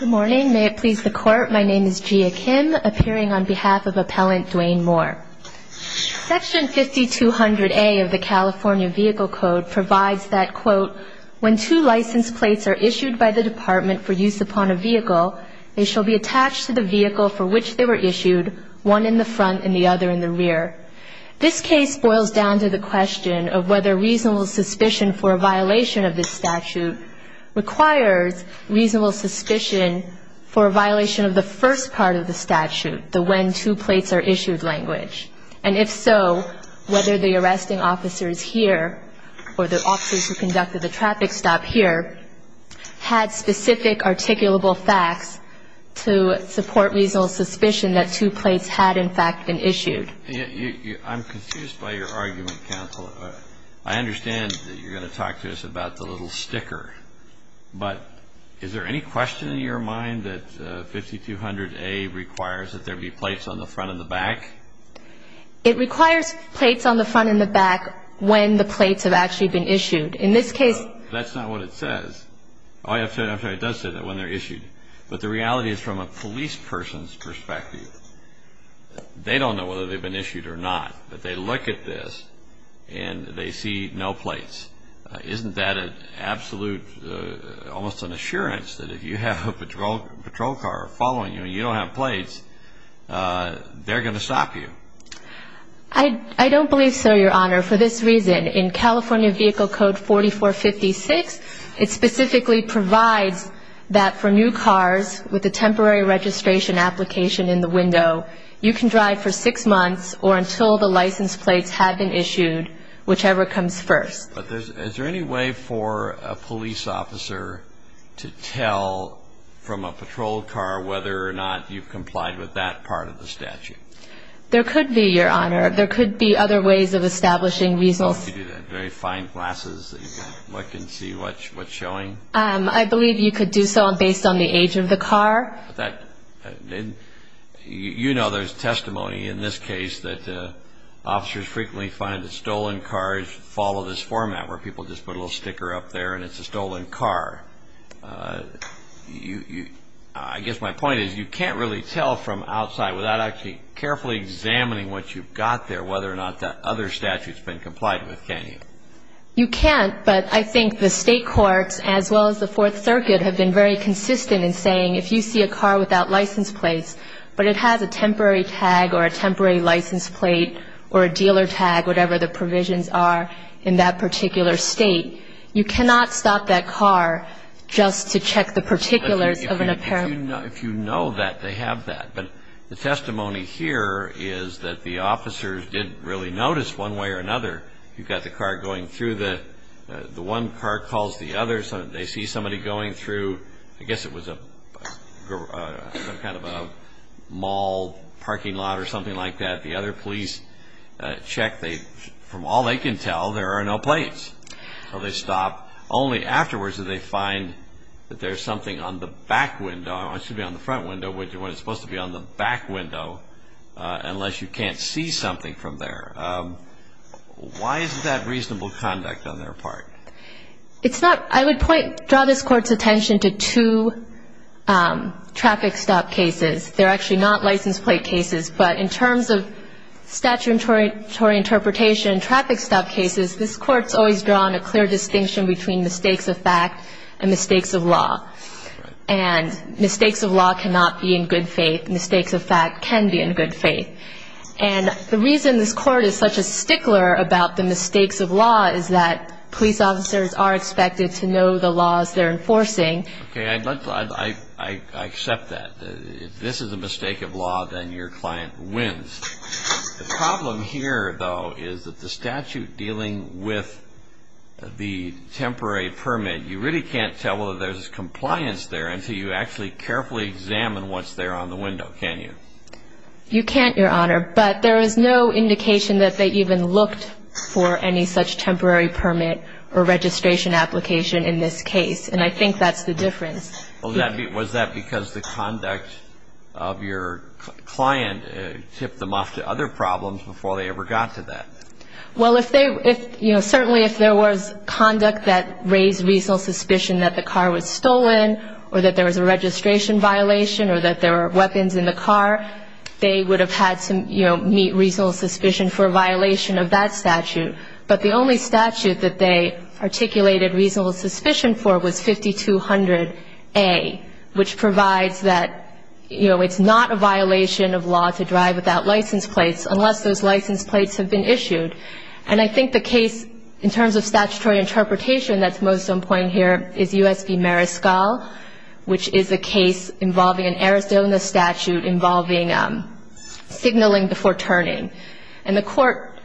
Good morning. May it please the Court, my name is Gia Kim, appearing on behalf of Appellant Duane Moore. Section 5200A of the California Vehicle Code provides that, quote, when two license plates are issued by the Department for use upon a vehicle, they shall be attached to the vehicle for which they were issued, one in the front and the other in the rear. This case boils down to the question of whether reasonable suspicion for a violation of this statute requires reasonable suspicion for a violation of the first part of the statute, the when two plates are issued language. And if so, whether the arresting officers here or the officers who conducted the traffic stop here had specific articulable facts to support reasonable suspicion that two plates had in fact been issued. I'm confused by your argument, counsel. I understand that you're going to talk to us about the little sticker, but is there any question in your mind that 5200A requires that there be plates on the front and the back? It requires plates on the front and the back when the plates have actually been issued. In this case... No, that's not what it says. Oh, I'm sorry, it does say that when they're issued. But the reality is from a police person's perspective, they don't know whether they've been issued or not, but they look at this and they see no plates. Isn't that an absolute, almost an assurance that if you have a patrol car following you and you don't have plates, they're going to stop you? I don't believe so, Your Honor. For this reason, in California Vehicle Code 4456, it specifically provides that for new cars with a temporary registration application in the window, you can drive for six months or until the license plates have been issued, whichever comes first. But is there any way for a police officer to tell from a patrol car whether or not you've complied with that part of the statute? There could be, Your Honor. There could be other ways of establishing results. Very fine glasses that you can look and see what's showing? I believe you could do so based on the age of the car. You know there's testimony in this case that officers frequently find that stolen cars follow this format where people just put a little sticker up there and it's a stolen car. I guess my point is you can't really tell from outside without actually carefully examining what you've got there, whether or not that other statute's been complied with, can you? You can't, but I think the state courts as well as the Fourth Circuit have been very consistent in saying if you see a car without license plates but it has a temporary tag or a temporary license plate or a dealer tag, whatever the provisions are in that particular state, you cannot stop that car just to check the particulars of an apparent. If you know that, they have that. But the testimony here is that the officers didn't really notice one way or another. You've got the car going through the one car calls the other. They see somebody going through, I guess it was a kind of a mall parking lot or something like that. The other police check. From all they can tell, there are no plates. So they stop. Only afterwards do they find that there's something on the back window. It should be on the front window when it's supposed to be on the back window unless you can't see something from there. Why isn't that reasonable conduct on their part? I would draw this Court's attention to two traffic stop cases. They're actually not license plate cases, but in terms of statutory interpretation traffic stop cases, this Court's always drawn a clear distinction between mistakes of fact and mistakes of law. And mistakes of law cannot be in good faith. Mistakes of fact can be in good faith. And the reason this Court is such a stickler about the mistakes of law is that police officers are expected to know the laws they're enforcing. I accept that. If this is a mistake of law, then your client wins. The problem here, though, is that the statute dealing with the temporary permit, you really can't tell whether there's compliance there until you actually carefully examine what's there on the window, can you? You can't, Your Honor. But there is no indication that they even looked for any such temporary permit or registration application in this case, and I think that's the difference. Was that because the conduct of your client tipped them off to other problems before they ever got to that? Well, certainly if there was conduct that raised reasonable suspicion that the car was stolen or that there was a registration violation or that there were weapons in the car, they would have had to meet reasonable suspicion for a violation of that statute. But the only statute that they articulated reasonable suspicion for was 5200A, which provides that it's not a violation of law to drive without license plates unless those license plates have been issued. And I think the case, in terms of statutory interpretation, that's most on point here is U.S. v. Mariscal, which is a case involving an Arizona statute involving signaling before turning. And the court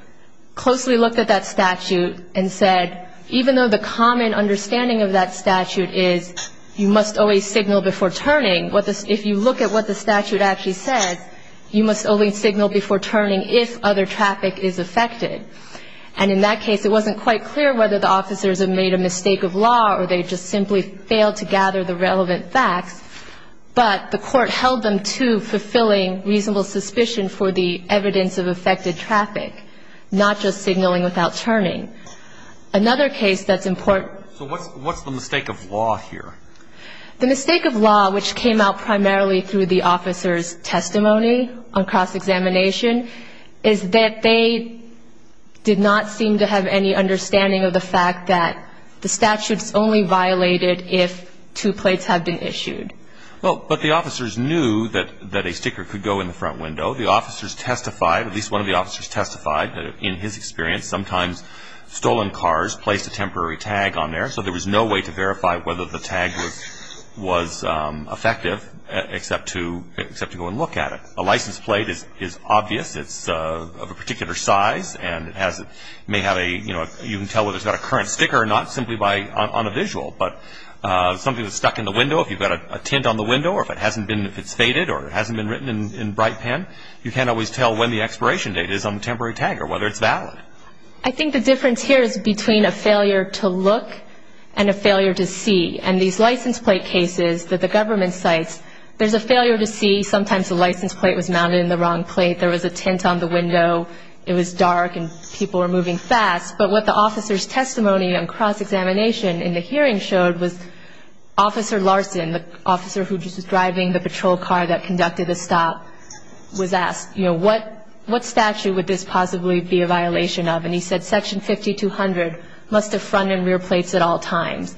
closely looked at that statute and said, even though the common understanding of that statute is you must always signal before turning, if you look at what the statute actually says, you must only signal before turning if other traffic is affected. And in that case, it wasn't quite clear whether the officers had made a mistake of law or they just simply failed to gather the relevant facts, but the court held them to fulfilling reasonable suspicion for the evidence of affected traffic, not just signaling without turning. Another case that's important... So what's the mistake of law here? The mistake of law, which came out primarily through the officers' testimony on cross-examination, is that they did not seem to have any understanding of the fact that the statute is only violated if two plates have been issued. Well, but the officers knew that a sticker could go in the front window. The officers testified, at least one of the officers testified, that in his experience sometimes stolen cars placed a temporary tag on there, so there was no way to verify whether the tag was effective except to go and look at it. A license plate is obvious. It's of a particular size, and it may have a, you know, you can tell whether it's got a current sticker or not simply on a visual, but something that's stuck in the window, if you've got a tint on the window or if it hasn't been, if it's faded or it hasn't been written in bright pen, you can't always tell when the expiration date is on the temporary tag or whether it's valid. I think the difference here is between a failure to look and a failure to see, and these license plate cases that the government cites, there's a failure to see. Sometimes the license plate was mounted in the wrong plate. There was a tint on the window. It was dark, and people were moving fast. But what the officer's testimony on cross-examination in the hearing showed was Officer Larson, the officer who was driving the patrol car that conducted the stop, was asked, you know, what statute would this possibly be a violation of? And he said Section 5200 must have front and rear plates at all times.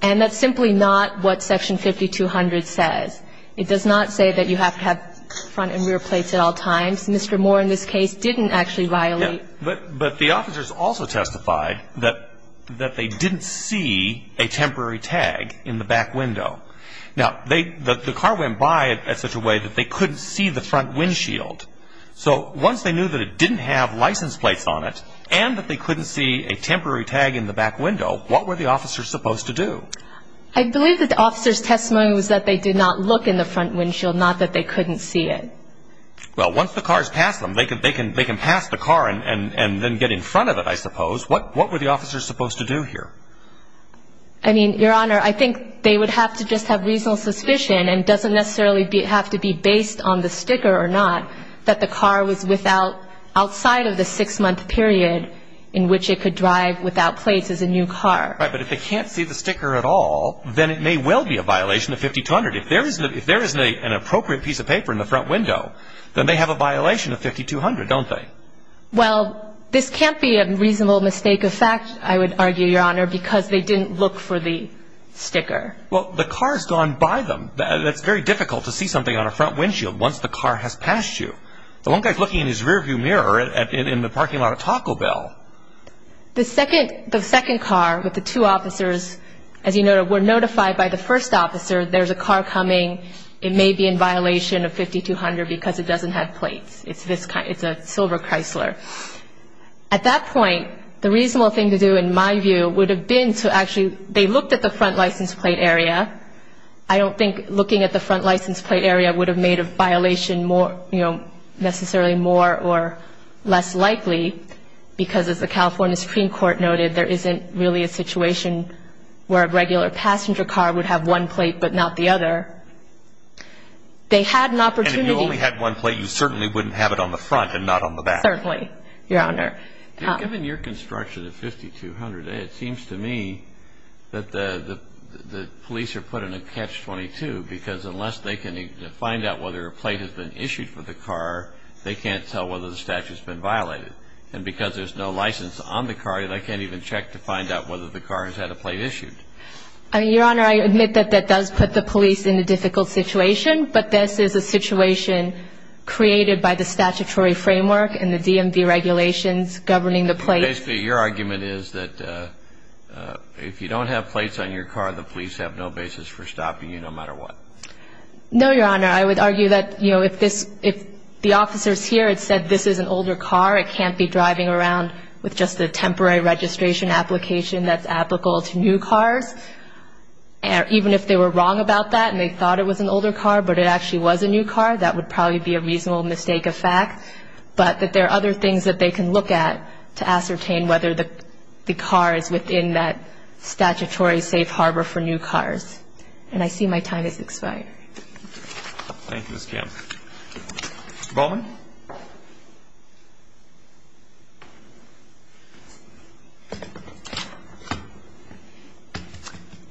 And that's simply not what Section 5200 says. It does not say that you have to have front and rear plates at all times. Mr. Moore in this case didn't actually violate. But the officers also testified that they didn't see a temporary tag in the back window. Now, the car went by in such a way that they couldn't see the front windshield. So once they knew that it didn't have license plates on it and that they couldn't see a temporary tag in the back window, what were the officers supposed to do? I believe that the officer's testimony was that they did not look in the front windshield, not that they couldn't see it. Well, once the cars pass them, they can pass the car and then get in front of it, I suppose. What were the officers supposed to do here? I mean, Your Honor, I think they would have to just have reasonable suspicion and doesn't necessarily have to be based on the sticker or not that the car was without outside of the six-month period in which it could drive without plates as a new car. Right, but if they can't see the sticker at all, then it may well be a violation of 5200. If there isn't an appropriate piece of paper in the front window, then they have a violation of 5200, don't they? Well, this can't be a reasonable mistake of fact, I would argue, Your Honor, because they didn't look for the sticker. Well, the car's gone by them. That's very difficult to see something on a front windshield once the car has passed you. The one guy's looking in his rear-view mirror in the parking lot of Taco Bell. The second car with the two officers, as you know, were notified by the first officer, there's a car coming, it may be in violation of 5200 because it doesn't have plates. It's a silver Chrysler. At that point, the reasonable thing to do, in my view, would have been to actually they looked at the front license plate area. I don't think looking at the front license plate area would have made a violation more, you know, necessarily more or less likely because, as the California Supreme Court noted, there isn't really a situation where a regular passenger car would have one plate but not the other. They had an opportunity. And if you only had one plate, you certainly wouldn't have it on the front and not on the back. Certainly, Your Honor. Given your construction of 5200, it seems to me that the police are put in a catch-22 because unless they can find out whether a plate has been issued for the car, they can't tell whether the statute's been violated. And because there's no license on the car, they can't even check to find out whether the car has had a plate issued. Your Honor, I admit that that does put the police in a difficult situation, but this is a situation created by the statutory framework and the DMV regulations governing the plate. Basically, your argument is that if you don't have plates on your car, the police have no basis for stopping you no matter what. No, Your Honor. I would argue that, you know, if the officers here had said this is an older car, it can't be driving around with just a temporary registration application that's applicable to new cars. Even if they were wrong about that and they thought it was an older car but it actually was a new car, that would probably be a reasonable mistake of fact. But that there are other things that they can look at to ascertain whether the car is within that statutory safe harbor for new cars. And I see my time has expired. Thank you, Ms. Campbell. Mr. Baldwin.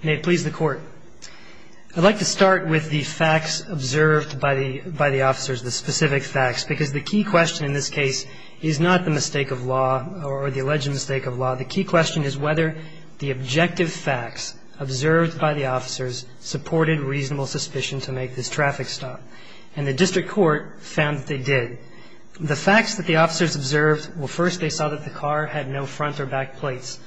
May it please the Court. I'd like to start with the facts observed by the officers, the specific facts, because the key question in this case is not the mistake of law or the alleged mistake of law. The key question is whether the objective facts observed by the officers supported reasonable suspicion to make this traffic stop. And the district court found that they did. The facts that the officers observed, well, first they saw that the car had no front or back plates.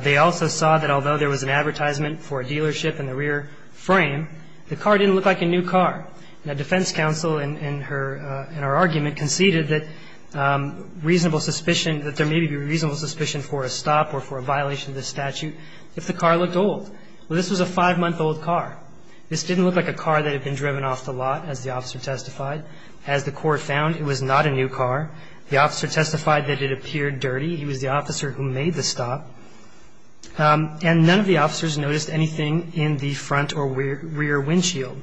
They also saw that although there was an advertisement for a dealership in the rear frame, the car didn't look like a new car. And the defense counsel in her argument conceded that reasonable suspicion, that there may be reasonable suspicion for a stop or for a violation of this statute if the car looked old. Well, this was a five-month-old car. This didn't look like a car that had been driven off the lot, as the officer testified. As the court found, it was not a new car. The officer testified that it appeared dirty. He was the officer who made the stop. And none of the officers noticed anything in the front or rear windshield.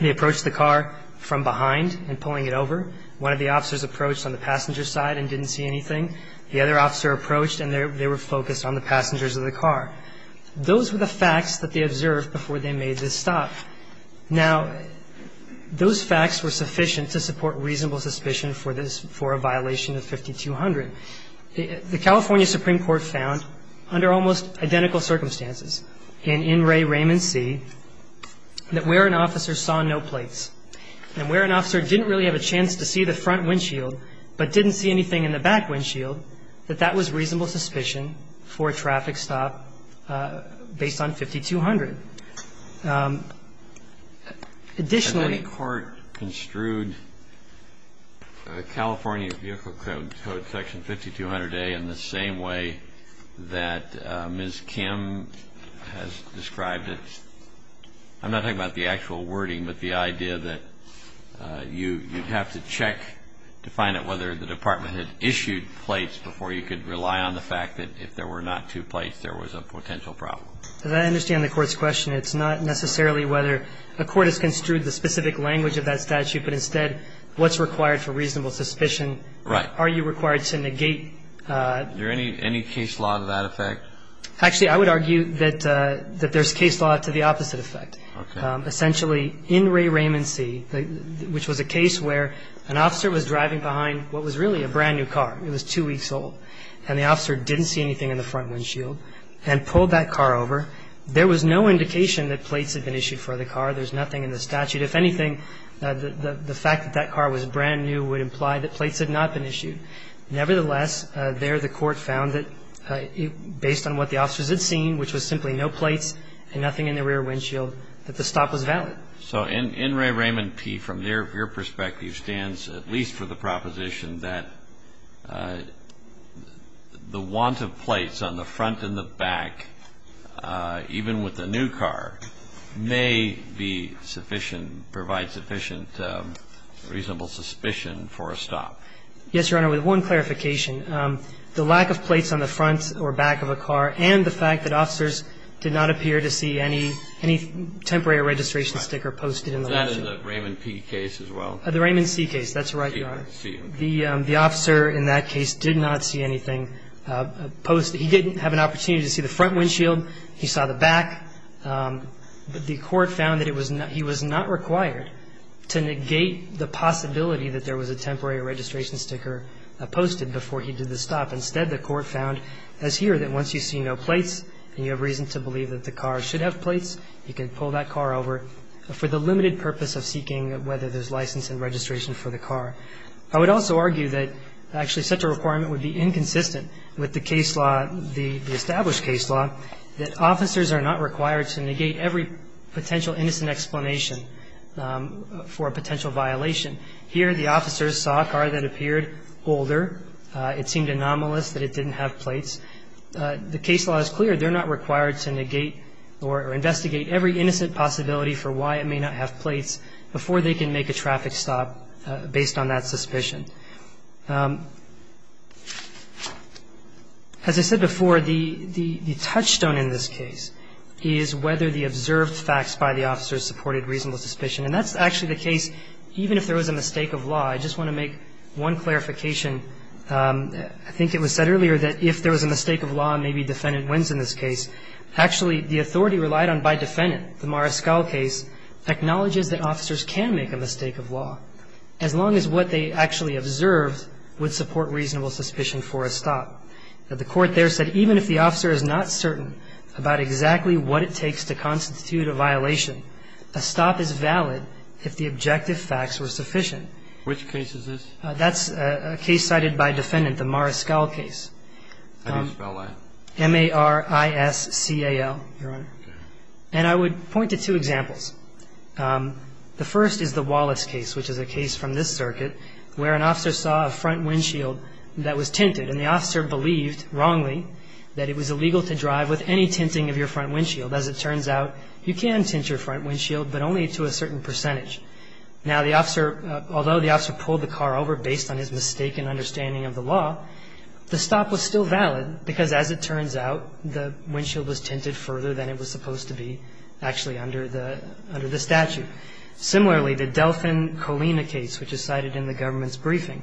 They approached the car from behind and pulling it over. One of the officers approached on the passenger side and didn't see anything. The other officer approached and they were focused on the passengers of the car. Those were the facts that they observed before they made this stop. Now, those facts were sufficient to support reasonable suspicion for this, for a violation of 5200. The California Supreme Court found under almost identical circumstances in In Re. Raymond C. that where an officer saw no plates and where an officer didn't really have a chance to see the front windshield but didn't see anything in the back windshield, that that was reasonable suspicion for a traffic stop based on 5200. Additionally. And then the court construed California Vehicle Code, Section 5200A, in the same way that Ms. Kim has described it. I'm not talking about the actual wording, but the idea that you'd have to check to find out whether the department had issued plates before you could rely on the fact that if there were not two plates, there was a potential problem. As I understand the Court's question, it's not necessarily whether a court has construed the specific language of that statute, but instead what's required for reasonable suspicion. Right. Is there any case law to that effect? Actually, I would argue that there's case law to the opposite effect. Okay. Essentially, in Re. Raymond C., which was a case where an officer was driving behind what was really a brand new car. It was two weeks old. And the officer didn't see anything in the front windshield and pulled that car over. There was no indication that plates had been issued for the car. There's nothing in the statute. If anything, the fact that that car was brand new would imply that plates had not been issued. Nevertheless, there the Court found that based on what the officers had seen, which was simply no plates and nothing in the rear windshield, that the stop was valid. So in Re. Raymond P., from your perspective, stands at least for the proposition that the want of plates on the front and the back, even with a new car, may be sufficient, provide sufficient reasonable suspicion for a stop. Yes, Your Honor. With one clarification. The lack of plates on the front or back of a car and the fact that officers did not appear to see any temporary registration sticker posted in the lawsuit. Was that in the Raymond P. case as well? The Raymond C. case. That's right, Your Honor. The officer in that case did not see anything posted. He didn't have an opportunity to see the front windshield. He saw the back. But the Court found that he was not required to negate the possibility that there was a temporary registration sticker posted before he did the stop. Instead, the Court found, as here, that once you see no plates and you have reason to believe that the car should have plates, you can pull that car over for the limited purpose of seeking whether there's license and registration for the car. I would also argue that actually such a requirement would be inconsistent with the case law, the established case law, that officers are not required to negate every potential innocent explanation for a potential violation. Here, the officers saw a car that appeared older. It seemed anomalous that it didn't have plates. The case law is clear. They're not required to negate or investigate every innocent possibility for why it may not have plates before they can make a traffic stop based on that suspicion. As I said before, the touchstone in this case is whether the observed facts by the officers supported reasonable suspicion. And that's actually the case even if there was a mistake of law. I just want to make one clarification. I think it was said earlier that if there was a mistake of law, maybe defendant wins in this case. Actually, the authority relied on by defendant, the Mariscal case, acknowledges that officers can make a mistake of law, as long as what they actually observed would support reasonable suspicion for a stop. The Court there said even if the officer is not certain about exactly what it takes to constitute a violation, a stop is valid if the objective facts were sufficient. Which case is this? That's a case cited by defendant, the Mariscal case. How do you spell that? M-A-R-I-S-C-A-L, Your Honor. Okay. And I would point to two examples. The first is the Wallace case, which is a case from this circuit, where an officer saw a front windshield that was tinted. And the officer believed, wrongly, that it was illegal to drive with any tinting of your front windshield. As it turns out, you can tint your front windshield, but only to a certain percentage. Now, the officer, although the officer pulled the car over, based on his mistaken understanding of the law, the stop was still valid, because as it turns out, the windshield was tinted further than it was supposed to be actually under the statute. Similarly, the Delphin Colina case, which is cited in the government's briefing.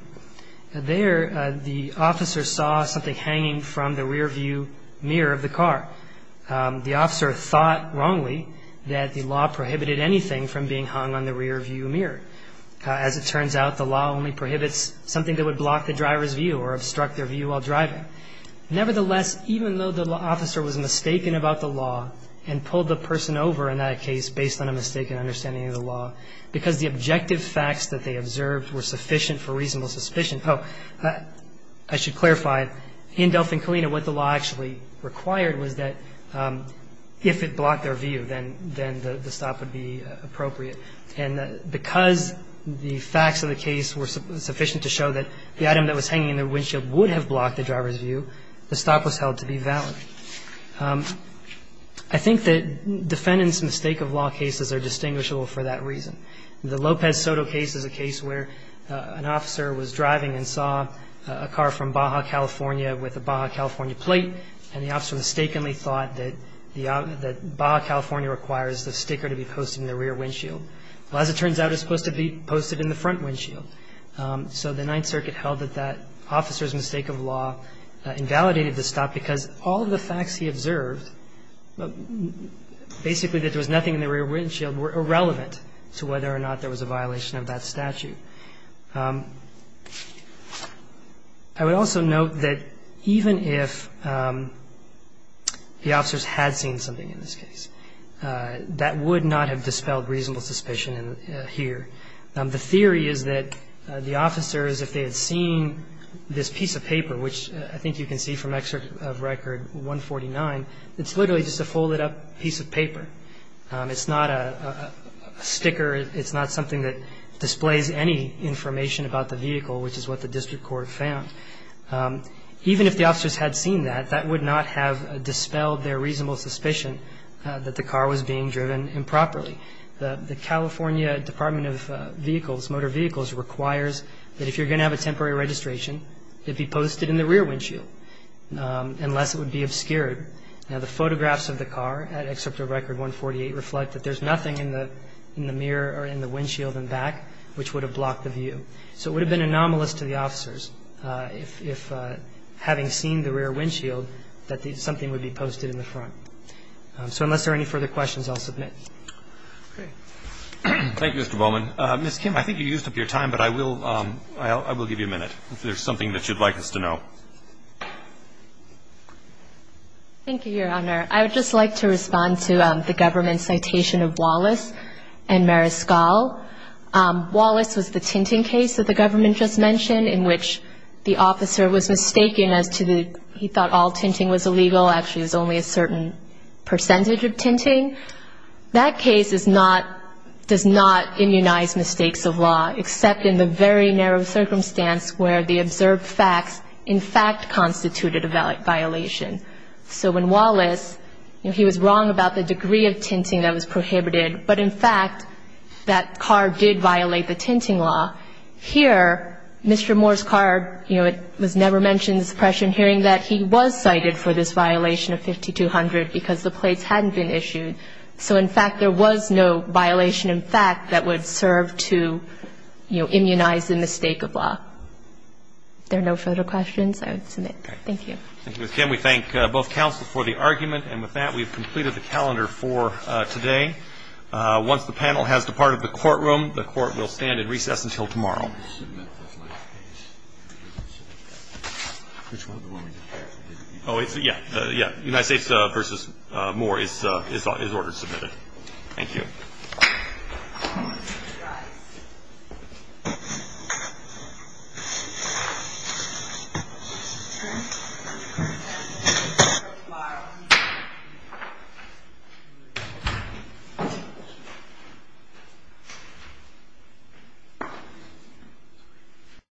There, the officer saw something hanging from the rearview mirror of the car. The officer thought, wrongly, that the law prohibited anything from being hung on the rearview mirror. As it turns out, the law only prohibits something that would block the driver's view or obstruct their view while driving. Nevertheless, even though the officer was mistaken about the law and pulled the person over in that case based on a mistaken understanding of the law, because the objective facts that they observed were sufficient for reasonable suspicion – oh, I should clarify. In Delphin Colina, what the law actually required was that if it blocked their view, then the stop would be appropriate. And because the facts of the case were sufficient to show that the item that was hanging in the windshield would have blocked the driver's view, the stop was held to be valid. I think that defendants' mistake-of-law cases are distinguishable for that reason. The Lopez Soto case is a case where an officer was driving and saw a car from Baja, California, with a Baja, California plate, and the officer mistakenly thought that Baja, California requires the sticker to be posted in the rear windshield. Well, as it turns out, it's supposed to be posted in the front windshield. So the Ninth Circuit held that that officer's mistake-of-law invalidated the stop because all of the facts he observed, basically that there was nothing in the rear windshield, were irrelevant to whether or not there was a violation of that statute. I would also note that even if the officers had seen something in this case, that would not have dispelled reasonable suspicion here. The theory is that the officers, if they had seen this piece of paper, which I think you can see from Excerpt of Record 149, it's literally just a folded-up piece of paper. It's not a sticker. It's not something that displays any information about the vehicle, which is what the district court found. Even if the officers had seen that, that would not have dispelled their reasonable suspicion that the car was being driven improperly. The California Department of Vehicles, Motor Vehicles, requires that if you're going to have a temporary registration, it be posted in the rear windshield, unless it would be obscured. Now, the photographs of the car at Excerpt of Record 148 reflect that there's nothing in the mirror or in the windshield and back which would have blocked the view. So it would have been anomalous to the officers, if having seen the rear windshield that something would be posted in the front. So unless there are any further questions, I'll submit. Okay. Thank you, Mr. Bowman. Ms. Kim, I think you used up your time, but I will give you a minute, if there's something that you'd like us to know. Thank you, Your Honor. I would just like to respond to the government's citation of Wallace and Mariscal. Wallace was the tinting case that the government just mentioned, in which the officer was mistaken as to the he thought all tinting was illegal, actually it was only a certain percentage of tinting. That case is not, does not immunize mistakes of law, except in the very narrow circumstance where the observed facts in fact constituted a violation. So when Wallace, he was wrong about the degree of tinting that was prohibited, but in fact, that car did violate the tinting law. Here, Mr. Moore's car, you know, it was never mentioned in the suppression hearing that he was cited for this violation of 5200 because the plates hadn't been issued. So in fact, there was no violation in fact that would serve to, you know, immunize the mistake of law. If there are no further questions, I would submit. Thank you. Thank you, Ms. Kim. We thank both counsel for the argument. And with that, we've completed the calendar for today. Once the panel has departed the courtroom, the court will stand in recess until tomorrow. I want to submit this last case. Which one? Oh, yeah. Yeah. United States v. Moore is ordered to submit it. Thank you. Thank you.